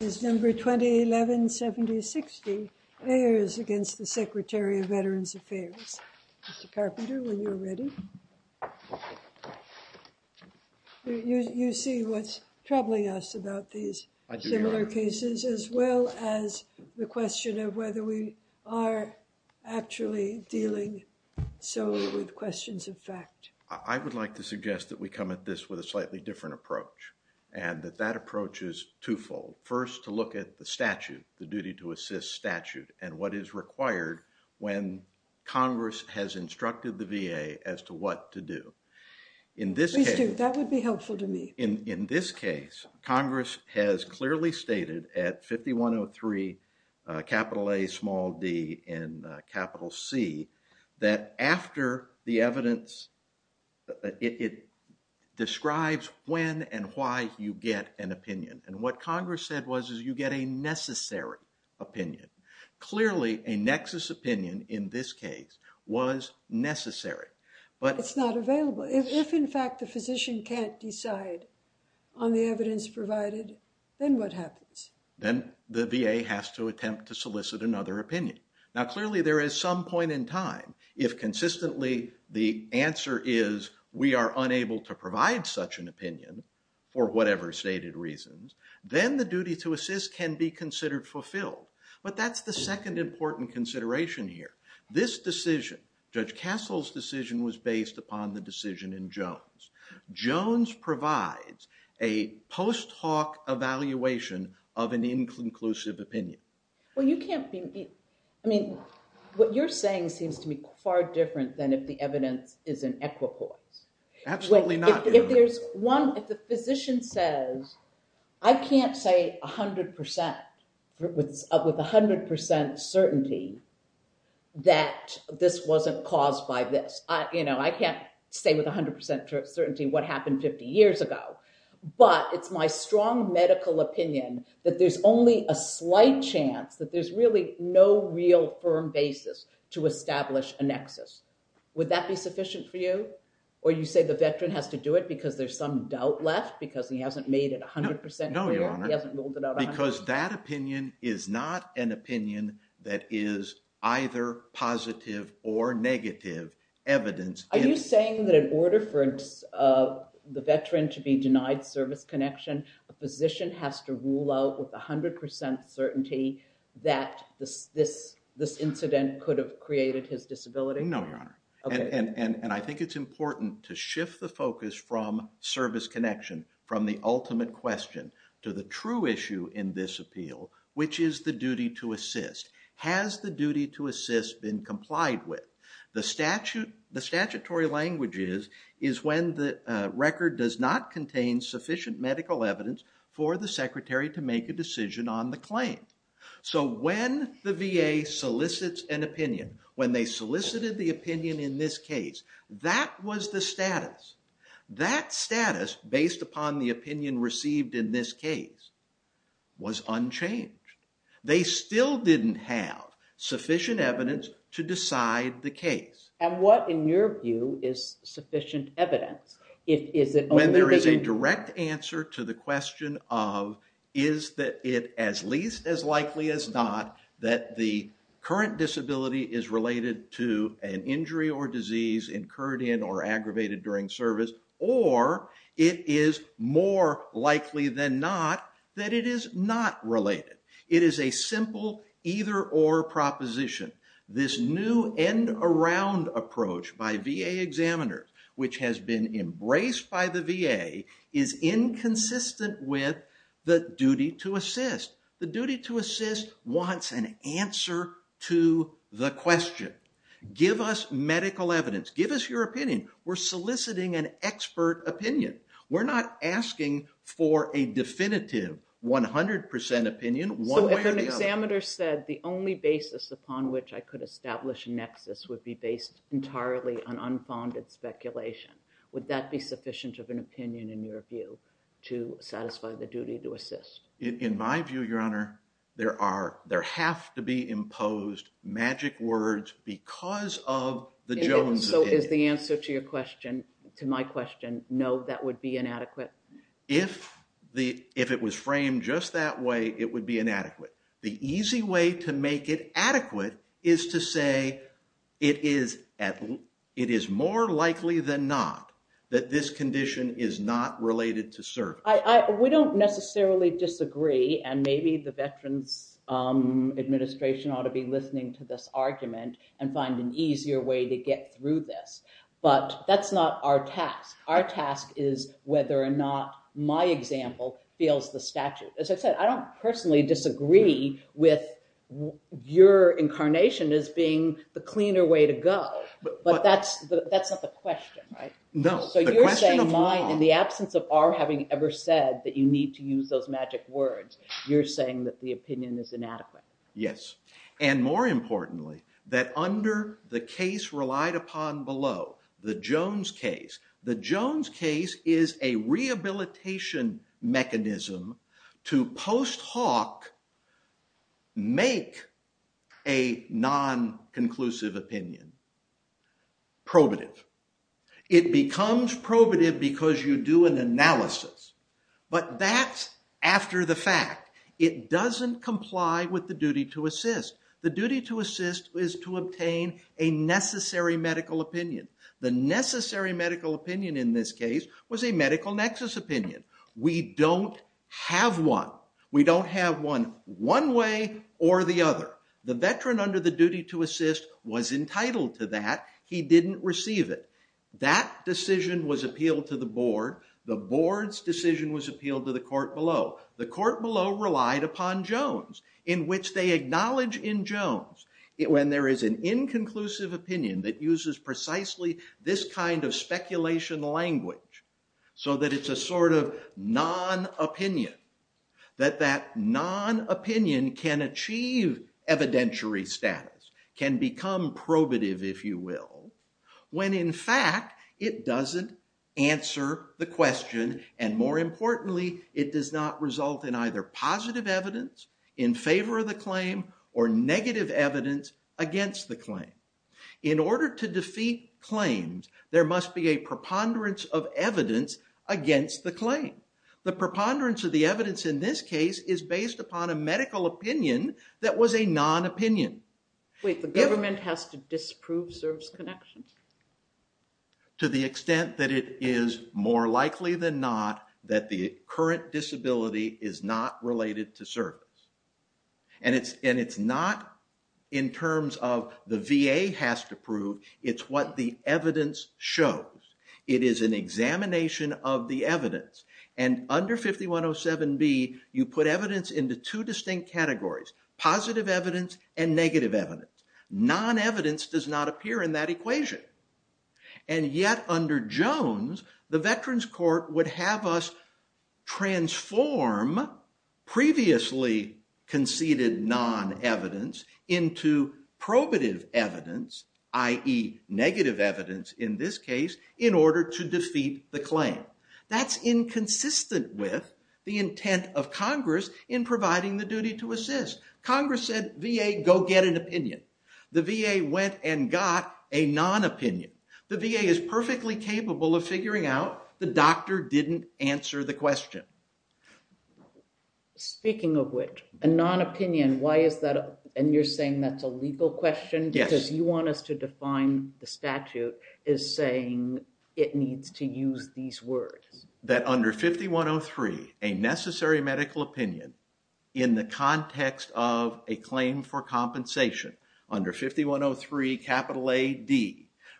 is number 2011-70-60 AYERS against the Secretary of Veterans Affairs. Mr. Carpenter, when you're ready. You see what's troubling us about these similar cases as well as the question of whether we are actually dealing solely with questions of fact. I would like to suggest that we come at this with a slightly different approach and that that approach is twofold. First to look at the statute, the duty to assist statute and what is required when Congress has instructed the VA as to what to do. In this case, that would be helpful to me. In this case, Congress has clearly stated at 5103 capital A small d and capital C that after the evidence it describes when and why you get an opinion and what Congress said was is you get a necessary opinion. Clearly a nexus opinion in this case was necessary. But it's not available. If in fact the physician can't decide on the evidence provided, then what happens? Then the VA has to attempt to solicit another opinion. Now clearly there is some point in time if consistently the answer is we are unable to provide such an opinion for whatever stated reasons, then the duty to assist can be considered fulfilled. But that's the second important consideration here. This decision, Judge Castle's upon the decision in Jones. Jones provides a post-talk evaluation of an inclusive opinion. Well you can't be, I mean what you're saying seems to be far different than if the evidence is in equipoise. Absolutely not. If there's one, if the physician says I can't say 100% with 100% certainty that this wasn't caused by this. I can't say with 100% certainty what happened 50 years ago. But it's my strong medical opinion that there's only a slight chance that there's really no real firm basis to establish a nexus. Would that be sufficient for you? Or you say the veteran has to do it because there's some doubt left because he hasn't ruled it out? Because that opinion is not an opinion that is either positive or negative evidence. Are you saying that in order for the veteran to be denied service connection, a physician has to rule out with 100% certainty that this incident could have created his disability? No, Your Honor. And I think it's important to shift the focus from service connection from the ultimate question to the true issue in this appeal which is the duty to assist. Has the duty to assist been complied with? The statutory language is when the record does not contain sufficient medical evidence for the secretary to make a decision on the claim. So when the VA solicits an opinion, when they solicited the opinion in this case, that was the status. That status based upon the opinion received in this case was unchanged. They still didn't have sufficient evidence to decide the case. And what in your view is sufficient evidence? When there is a direct answer to the question of is that it as least as likely as not that the current disability is related to an injury or disease incurred in or aggravated during service or it is more likely than not that it is not related. It is a simple either or proposition. This new end around approach by VA examiners which has been embraced by the VA is inconsistent with the duty to assist. The duty to assist wants an answer to the question. Give us medical evidence. Give us your opinion. We're soliciting an expert opinion. We're not asking for a definitive 100 percent opinion one way or the other. So if an examiner said the only basis upon which I could establish a nexus would be based entirely on unfounded speculation, would that be sufficient of an opinion in your view to satisfy the duty to assist? In my view, your honor, there have to be imposed magic words because of the Jones opinion. And so is the answer to my question no, that would be inadequate? If it was framed just that way, it would be inadequate. The easy way to make it adequate is to say it is more likely than not that this condition is not related to service. We don't necessarily disagree and maybe the Veterans Administration ought to be listening to this argument and find an easier way to get through this. But that's not our task. Our task is whether or not my example feels the statute. As I said, I don't personally disagree with your incarnation as being the cleaner way to go. But that's not the question, right? No. So you're saying in the absence of our having ever said that you need to use those magic words, you're saying that the opinion is inadequate. Yes. And more importantly, that under the case relied upon below, the Jones case, the Jones case is a rehabilitation mechanism to post hoc make a non-conclusive opinion probative. It becomes probative because you do an analysis. But that's after the fact. It doesn't comply with the duty to assist. The duty to assist is to obtain a necessary medical opinion. The necessary medical opinion in this case was a medical nexus opinion. We don't have one. We don't have one one way or the other. The veteran under the duty to assist was entitled to that. He didn't receive it. That decision was appealed to the board. The board's decision was appealed to the court below. The court below relied upon Jones in which they acknowledge in Jones when there is an inconclusive opinion that uses precisely this kind of speculation language so that it's a sort of non-opinion. That that non-opinion can achieve evidentiary status, can become probative if you will, when in fact it doesn't answer the question and more importantly it does not result in either positive evidence in favor of the claim or negative evidence against the claim. In order to defeat claims there must be a preponderance of evidence against the claim. The preponderance of the evidence in this case is based upon a medical opinion that was a non-opinion. Wait, the government has to disprove service connections? To the extent that it is more likely than not that the current disability is not related to service and it's not in terms of the VA has to prove, it's what the evidence shows. It is an examination of the evidence and under 5107B you put evidence into two distinct categories, positive evidence and negative evidence. Non-evidence does not appear in that equation and yet under Jones the Veterans Court would have us transform previously conceded non-evidence into probative evidence i.e. negative evidence in this case in order to defeat the claim. That's inconsistent with the intent of Congress in providing the duty to assist. Congress said VA go get an opinion. The VA went and got a non-opinion. The VA is perfectly capable of figuring out the doctor didn't answer the question. Speaking of which a non-opinion why is that and you're saying that's a legal question because you want us to define the statute is saying it needs to use these words. That under 5103 a necessary medical opinion in the context of a claim for compensation under 5103 capital AD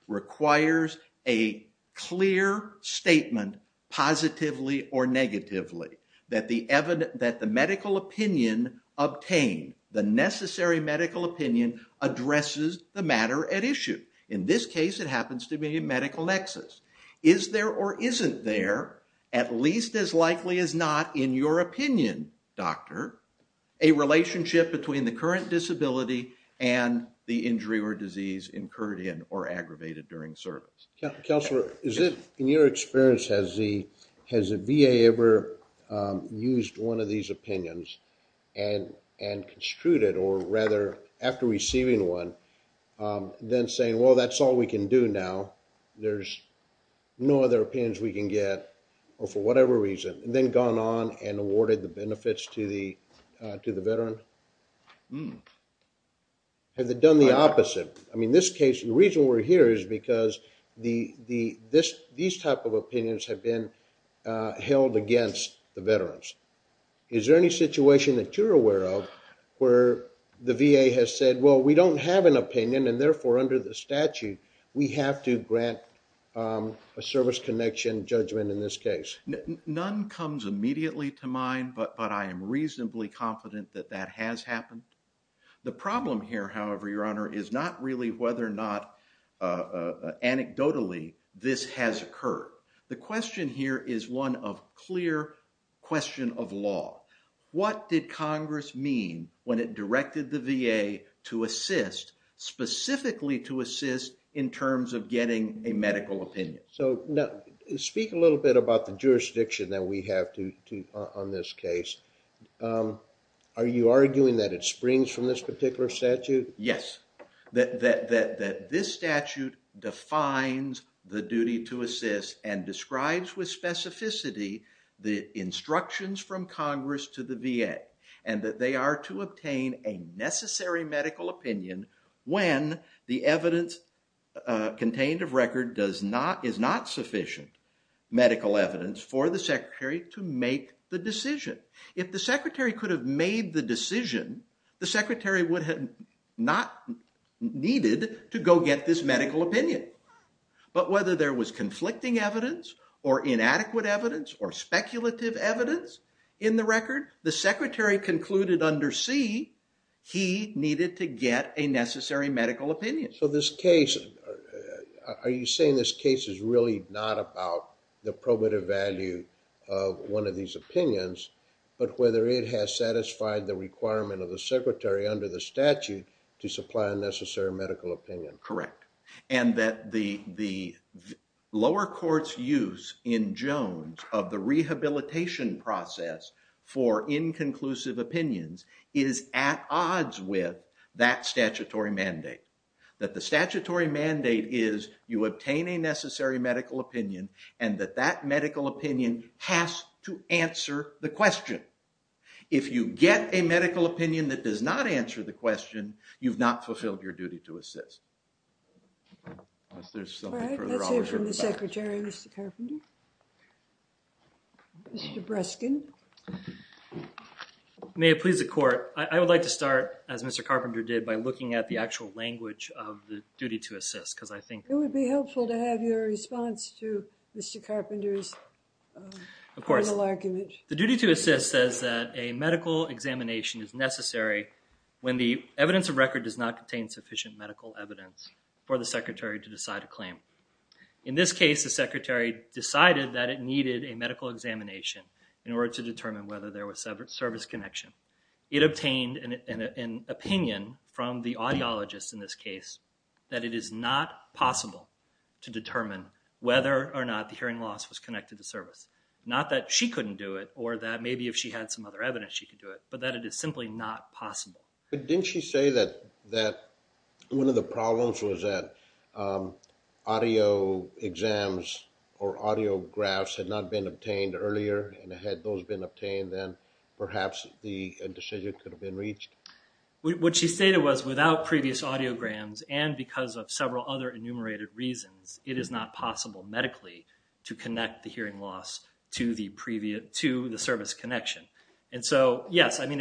requires a clear statement positively or negatively that the medical opinion obtained, the necessary medical opinion addresses the matter at issue. In this case it happens to be a medical nexus. Is there or isn't there at least as likely as not in your opinion doctor a relationship between the current disability and the injury or disease incurred in or aggravated during service. Counselor is it in your experience has the has a VA ever used one of these opinions and and construed it or rather after receiving one then saying well that's all we can do now. There's no other opinions we can get or for whatever reason and then gone on and awarded the benefits to the to the veteran. Have they done the opposite? I mean this case the reason we're here is because these type of opinions have been held against the veterans. Is there any situation that you're aware of where the VA has said well we don't have an opinion and therefore under the statute we have to grant a service connection judgment in this case? None comes immediately to mind but I am reasonably confident that that has happened. The problem here however your honor is not really whether or not anecdotally this has occurred. The question here is one of clear question of law. What did Congress mean when it directed the VA to assist specifically to assist in terms of getting a medical opinion? So now speak a little bit about the jurisdiction that we have to on this case. Are you arguing that it springs from this particular statute? Yes. That this statute defines the duty to assist and describes with specificity the instructions from Congress to the VA and that they are to obtain a necessary medical opinion when the evidence contained of record does not is not sufficient medical evidence for the secretary to make the decision. If the secretary could have made the decision the secretary would have not needed to go get this medical opinion. But whether there was conflicting evidence or inadequate evidence or speculative evidence in the record the secretary concluded under C he needed to get a necessary medical opinion. So this case are you saying this case is really not about the probative value of one of these opinions but whether it has satisfied the requirement of the secretary under the statute to supply a necessary medical opinion? Correct and that the lower court's use in Jones of the rehabilitation process for inconclusive opinions is at odds with that statutory mandate. That the statutory mandate is you obtain a necessary medical opinion and that that medical opinion has to answer the question. If you get a medical opinion that does not answer the question you've not fulfilled your duty to unless there's something. All right let's hear from the secretary Mr. Carpenter. Mr. Breskin. May it please the court I would like to start as Mr. Carpenter did by looking at the actual language of the duty to assist because I think. It would be helpful to have your response to Mr. Carpenter's. Of course the duty to assist says that a medical examination is necessary when the evidence of record does not contain sufficient medical evidence for the secretary to decide a claim. In this case the secretary decided that it needed a medical examination in order to determine whether there was service connection. It obtained an opinion from the audiologist in this case that it is not possible to determine whether or not the hearing loss was connected to service. Not that she couldn't do it or that maybe if she had some other evidence she could do it but that it is simply not possible. But didn't she say that one of the problems was that audio exams or audio graphs had not been obtained earlier and had those been obtained then perhaps the decision could have been reached? What she stated was without previous audiograms and because of several other enumerated reasons it is not possible medically to connect the hearing loss to the previous to the service connection. And so yes I mean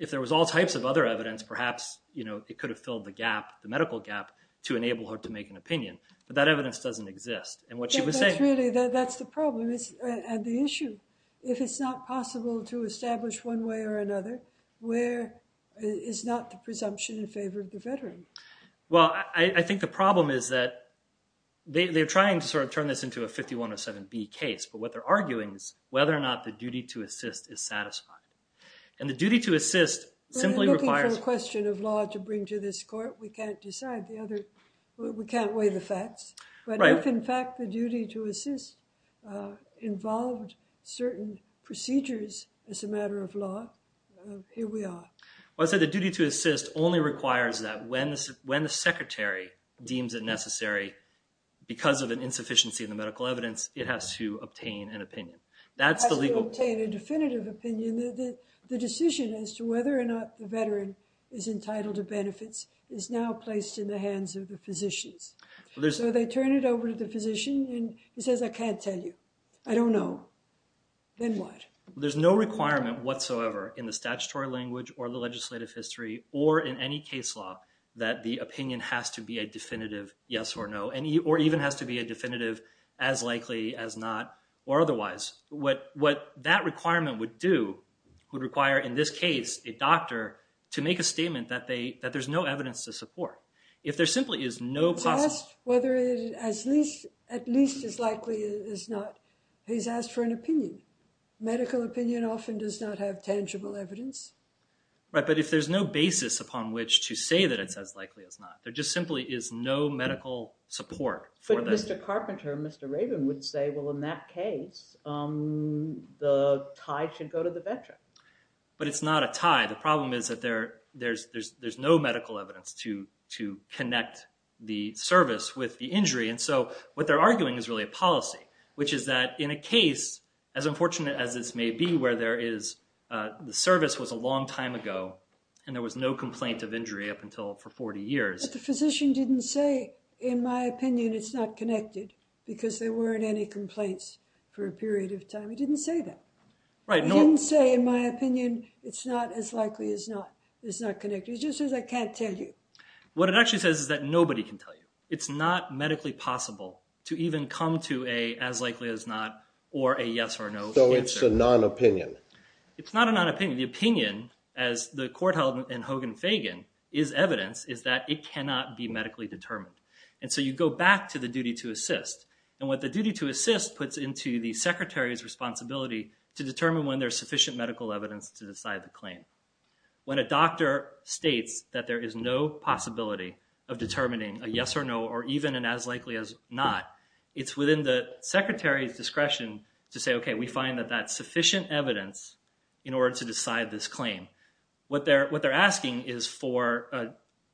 if there was all types of other evidence perhaps you know it could have filled the gap the medical gap to enable her to make an opinion but that evidence doesn't exist. And what she was saying really that's the problem is and the issue if it's not possible to establish one way or another where is not the presumption in favor of the veteran. Well I think the problem is that they're trying to sort of turn this into a 5107B case but what they're arguing is whether or not the duty to assist is satisfied. And the duty to assist simply requires a question of law to bring to this court we can't decide the other we can't weigh the facts but if in fact the duty to assist involved certain procedures as a matter of law here we are. Well I said the duty to assist only requires that when the secretary deems it necessary because of an insufficiency in the opinion. That's the legal. To obtain a definitive opinion the decision as to whether or not the veteran is entitled to benefits is now placed in the hands of the physicians. So they turn it over to the physician and he says I can't tell you. I don't know. Then what? There's no requirement whatsoever in the statutory language or the legislative history or in any case law that the opinion has to be a definitive yes or no and or even has to be a definitive as likely as not or otherwise what what that requirement would do would require in this case a doctor to make a statement that they that there's no evidence to support. If there simply is no cost whether it as least at least as likely as not he's asked for an opinion. Medical opinion often does not have tangible evidence. Right but if there's no basis upon which to say that it's as likely as not there simply is no medical support. But Mr. Carpenter, Mr. Rabin would say well in that case the tie should go to the veteran. But it's not a tie. The problem is that there there's there's there's no medical evidence to to connect the service with the injury and so what they're arguing is really a policy which is that in a case as unfortunate as this may be where there is the service was a long time ago and there was no complaint of injury up until for 40 years. The physician didn't say in my opinion it's not connected because there weren't any complaints for a period of time. He didn't say that. Right. He didn't say in my opinion it's not as likely as not it's not connected. It just says I can't tell you. What it actually says is that nobody can tell you. It's not medically possible to even come to a as likely as not or a yes or no. So it's a non-opinion. It's not a non-opinion. The opinion as the court held in Hogan-Fagan is evidence is it cannot be medically determined. And so you go back to the duty to assist and what the duty to assist puts into the secretary's responsibility to determine when there's sufficient medical evidence to decide the claim. When a doctor states that there is no possibility of determining a yes or no or even and as likely as not it's within the secretary's discretion to say okay we find that that sufficient evidence in order to decide this claim. What they're what they're asking is for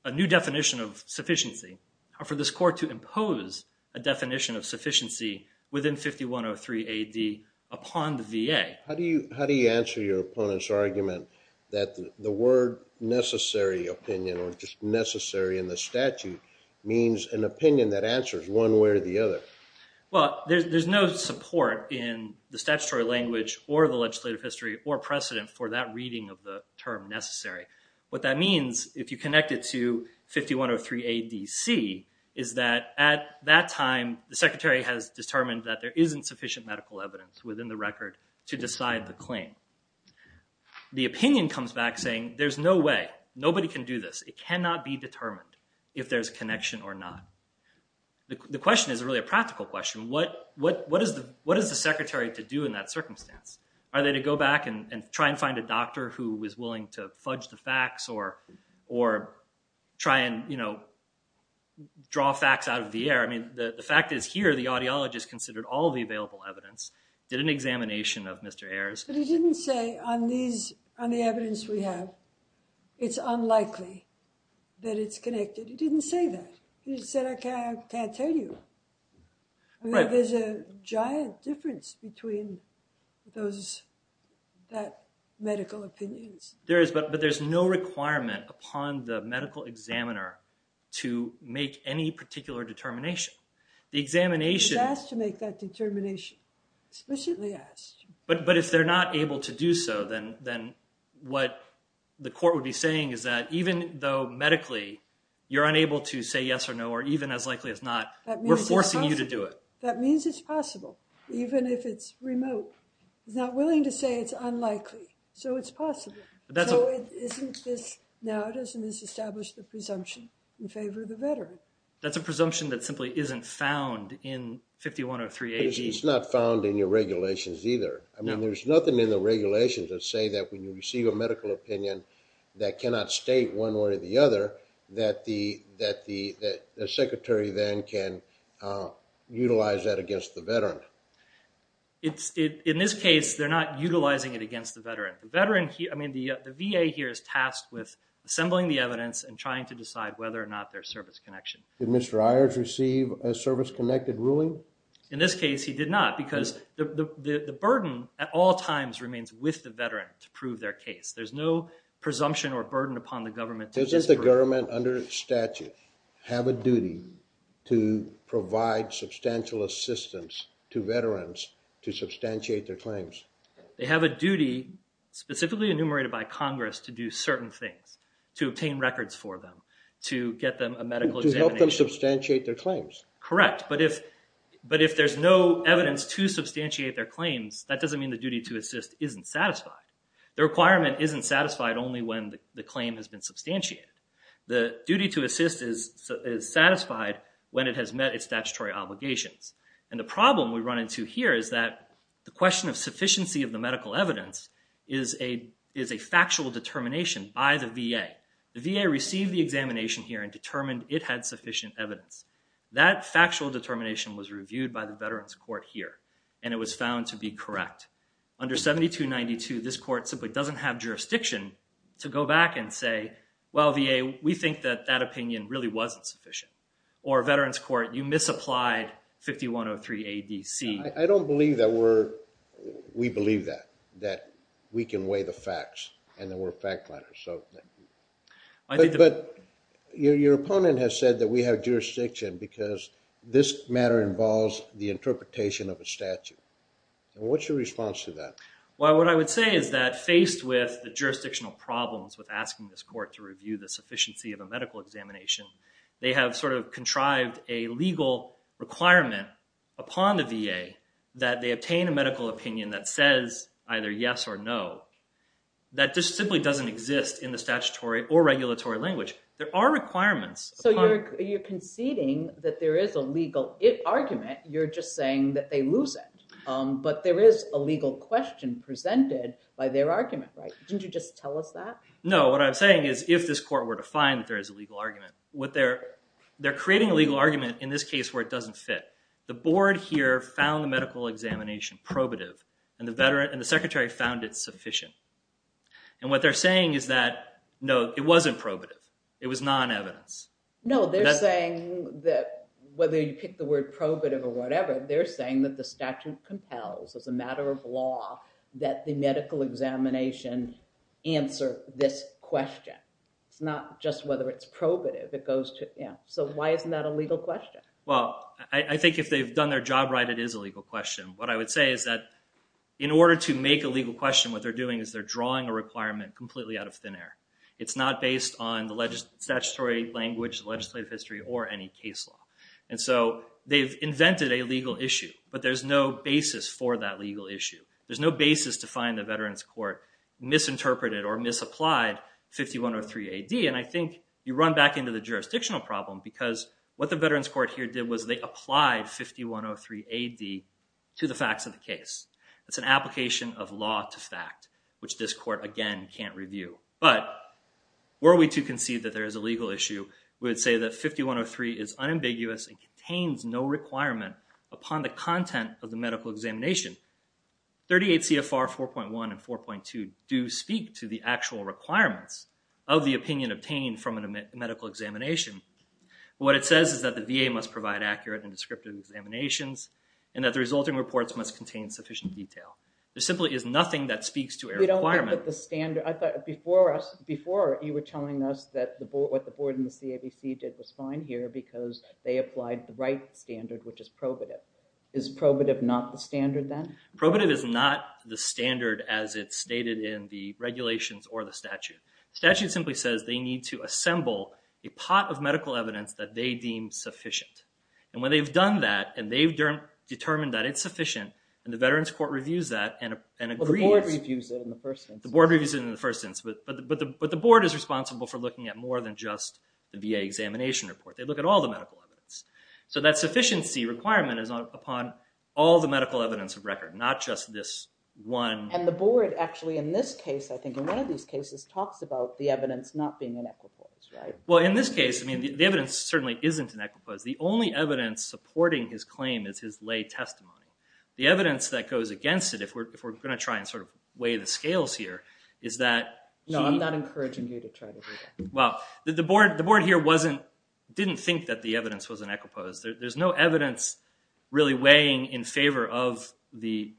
a new definition of sufficiency or for this court to impose a definition of sufficiency within 5103 ad upon the VA. How do you how do you answer your opponent's argument that the word necessary opinion or just necessary in the statute means an opinion that answers one way or the other? Well there's no support in the statutory language or the legislative history or precedent for that if you connect it to 5103 adc is that at that time the secretary has determined that there isn't sufficient medical evidence within the record to decide the claim. The opinion comes back saying there's no way nobody can do this it cannot be determined if there's connection or not. The question is really a practical question what what what is the what is the secretary to do in that circumstance? Are they to go back and try and find a doctor who was willing to fudge the facts or try and you know draw facts out of the air? I mean the the fact is here the audiologist considered all the available evidence did an examination of Mr. Ayers. But he didn't say on these on the evidence we have it's unlikely that it's connected. He didn't say that. He said I can't tell you. There's a giant difference between those that medical opinions. There is but there's no requirement upon the medical examiner to make any particular determination. The examination has to make that determination explicitly asked but but if they're not able to do so then then what the court would be saying is that even though medically you're unable to say yes or no or even as likely as not we're forcing you to do it. That means it's possible even if it's remote. He's not willing to say it's unlikely so it's possible. So isn't this now doesn't this establish the presumption in favor of the veteran? That's a presumption that simply isn't found in 5103-80. It's not found in your regulations either. I mean there's nothing in the regulations that say that when you receive a medical opinion that cannot state one way or the other. In this case they're not utilizing it against the veteran. The VA here is tasked with assembling the evidence and trying to decide whether or not there's service connection. Did Mr. Ayers receive a service-connected ruling? In this case he did not because the burden at all times remains with the veteran to prove their case. There's no presumption or burden upon the government. Doesn't the government under statute have a duty to provide substantial assistance to veterans to substantiate their claims? They have a duty specifically enumerated by Congress to do certain things. To obtain records for them. To get them a medical examination. To help them substantiate their claims. Correct. But if there's no evidence to substantiate their claims that doesn't mean the duty to assist isn't satisfied. The requirement isn't satisfied only when the claim has been substantiated. The duty to assist is satisfied when it has met its statutory obligations. And the problem we run into here is that the question of sufficiency of the medical evidence is a factual determination by the VA. The VA received the examination here and determined it had sufficient evidence. That factual determination was reviewed by the Veterans Court here and it was found to be correct. Under 7292 this court simply doesn't have jurisdiction to go back and say well VA we think that that opinion really wasn't sufficient. Or Veterans Court you misapplied 5103 ADC. I don't believe that we're we believe that that we can weigh the facts and that we're fact liners. But your opponent has said that we have jurisdiction because this matter involves the interpretation of a statute. What's your response to that? Well what I would say is that faced with the jurisdictional problems with asking this court to review the sufficiency of a medical examination they have sort of contrived a legal requirement upon the VA that they obtain a medical opinion that says either yes or no. That just simply doesn't exist in the statutory or regulatory language. There are requirements. So you're conceding that there is a legal argument. You're just saying that they lose it. But there is a legal question presented by their argument right. Didn't you just tell us that? No what I'm saying is if this court were to find that there is a legal argument what they're they're creating a legal argument in this case where it doesn't fit. The board here found the medical examination probative and the veteran and the secretary found it sufficient. And what they're saying is that no it wasn't probative. It was non-evidence. No they're saying that whether you pick the word probative or whatever they're saying that the statute compels as a matter of law that the medical examination answer this question. It's not just whether it's probative it goes to yeah. So why isn't that a legal question? Well I think if they've done their job right it is a legal question. What I would say is that in order to make a legal question what they're doing is they're drawing a requirement completely out of thin air. It's not based on the statutory language legislative history or any case law. And so they've invented a legal issue but there's no basis for that legal issue. There's no basis to find the veterans court misinterpreted or misapplied 5103 ad. And I think you run back into the jurisdictional problem because what the veterans court here did was they applied 5103 ad to the facts of the case. It's an application of law to fact which this court again can't review. But were we to concede that there is a legal issue we would say that 5103 is unambiguous and contains no requirement upon the content of the medical examination. 38 CFR 4.1 and 4.2 do speak to the actual requirements of the opinion obtained from a medical examination. What it says is that the VA must provide accurate and descriptive examinations and that the resulting reports must contain sufficient detail. There simply is nothing that speaks to a requirement. We don't look at the standard. I thought before us before you were telling us that the board what the board and the CABC did was fine here because they applied the right standard which is probative. Is probative not the standard then? Probative is not the standard as it's stated in the regulations or the statute. Statute simply says they need to assemble a pot of medical evidence that they deem sufficient. And when they've done that and they've determined that it's sufficient and the veterans court reviews that and agrees. The board reviews it in the first instance. But the board is responsible for looking at more than just the VA examination report. They look at all the medical evidence. So that sufficiency requirement is upon all the medical evidence of record not just this one. And the board actually in this case I think in one of these cases talks about the evidence not being in equipoise right? Well in this case I mean the evidence certainly isn't in equipoise. The only evidence supporting his claim is his lay testimony. The evidence that goes against it if we're going to try and sort of scales here is that. No I'm not encouraging you to try to do that. Well the board here wasn't didn't think that the evidence was in equipoise. There's no evidence really weighing in favor of the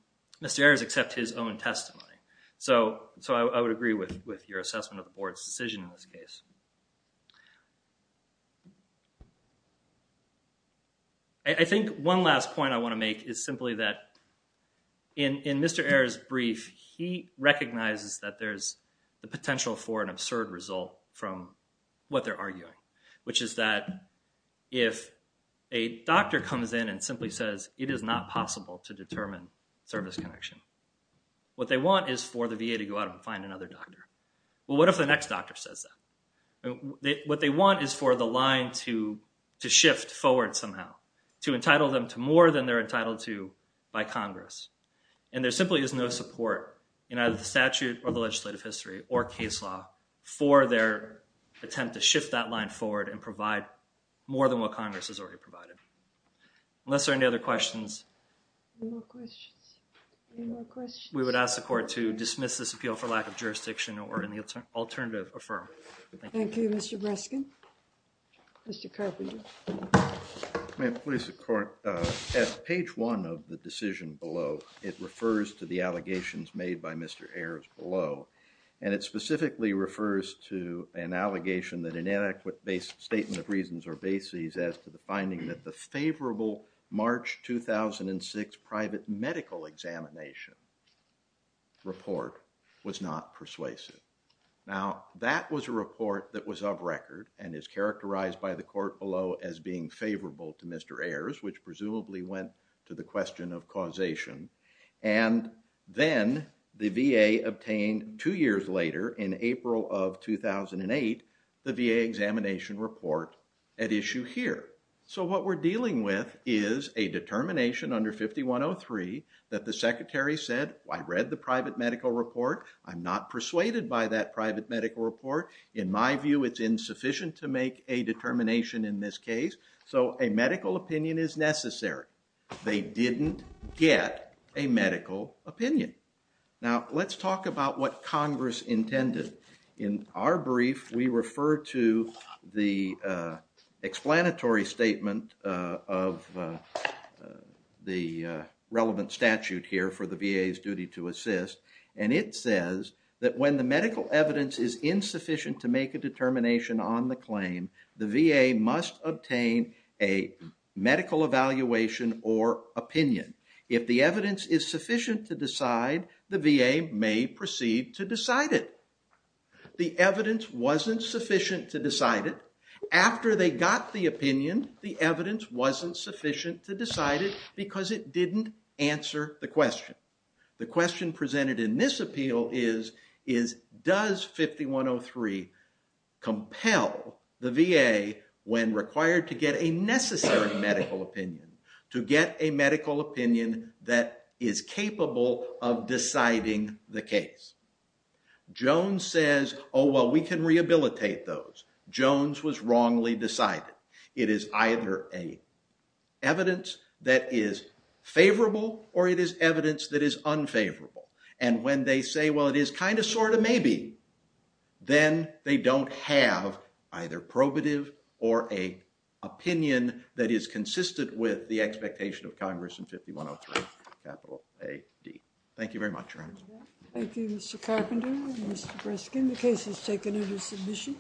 Mr. Ayers except his own testimony. So I would agree with your assessment of the board's decision in this case. I think one last point I want to make is simply that in Mr. Ayers' brief he recognizes that there's the potential for an absurd result from what they're arguing. Which is that if a doctor comes in and simply says it is not possible to determine service connection. What they want is for the VA to go out and find another doctor. Well what if the next doctor says that? What they want is for the line to shift forward somehow. To entitle them to more than they're entitled to by Congress. And there simply is no support in either the statute or the legislative history or case law for their attempt to shift that line forward and provide more than what Congress has already provided. Unless there are any other questions. Any more questions? We would ask the court to dismiss this appeal for lack of jurisdiction or in the alternative affirm. Thank you Mr. Breskin. Mr. Carpenter. May it please the court. At page one of the decision below it refers to the allegations made by Mr. Ayers below. And it specifically refers to an allegation that inadequate statement of reasons or bases as to the finding that the favorable March 2006 private medical examination report was not persuasive. Now that was a report that was of record and is characterized by the court below as being favorable to Mr. Ayers which presumably went to the question of causation. And then the VA obtained two years later in April of a determination under 5103 that the secretary said I read the private medical report. I'm not persuaded by that private medical report. In my view it's insufficient to make a determination in this case. So a medical opinion is necessary. They didn't get a medical opinion. Now let's talk about what Congress intended. In our brief we refer to the explanatory statement of the relevant statute here for the VA's duty to assist. And it says that when the medical evidence is insufficient to make a determination on the claim the VA must obtain a medical evaluation or opinion. If the evidence is insufficient the VA must proceed to decide it. The evidence wasn't sufficient to decide it. After they got the opinion the evidence wasn't sufficient to decide it because it didn't answer the question. The question presented in this appeal is does 5103 compel the VA when required to get a necessary medical opinion to get a medical opinion that is capable of deciding the case. Jones says oh well we can rehabilitate those. Jones was wrongly decided. It is either a evidence that is favorable or it is evidence that is unfavorable. And when they say well it is kind of sort of maybe then they don't have either probative or a opinion that is consistent with the expectation of Congress in 5103 capital AD. Thank you very much. Thank you Mr. Carpenter and Mr. Breskin. The case is taken into submission.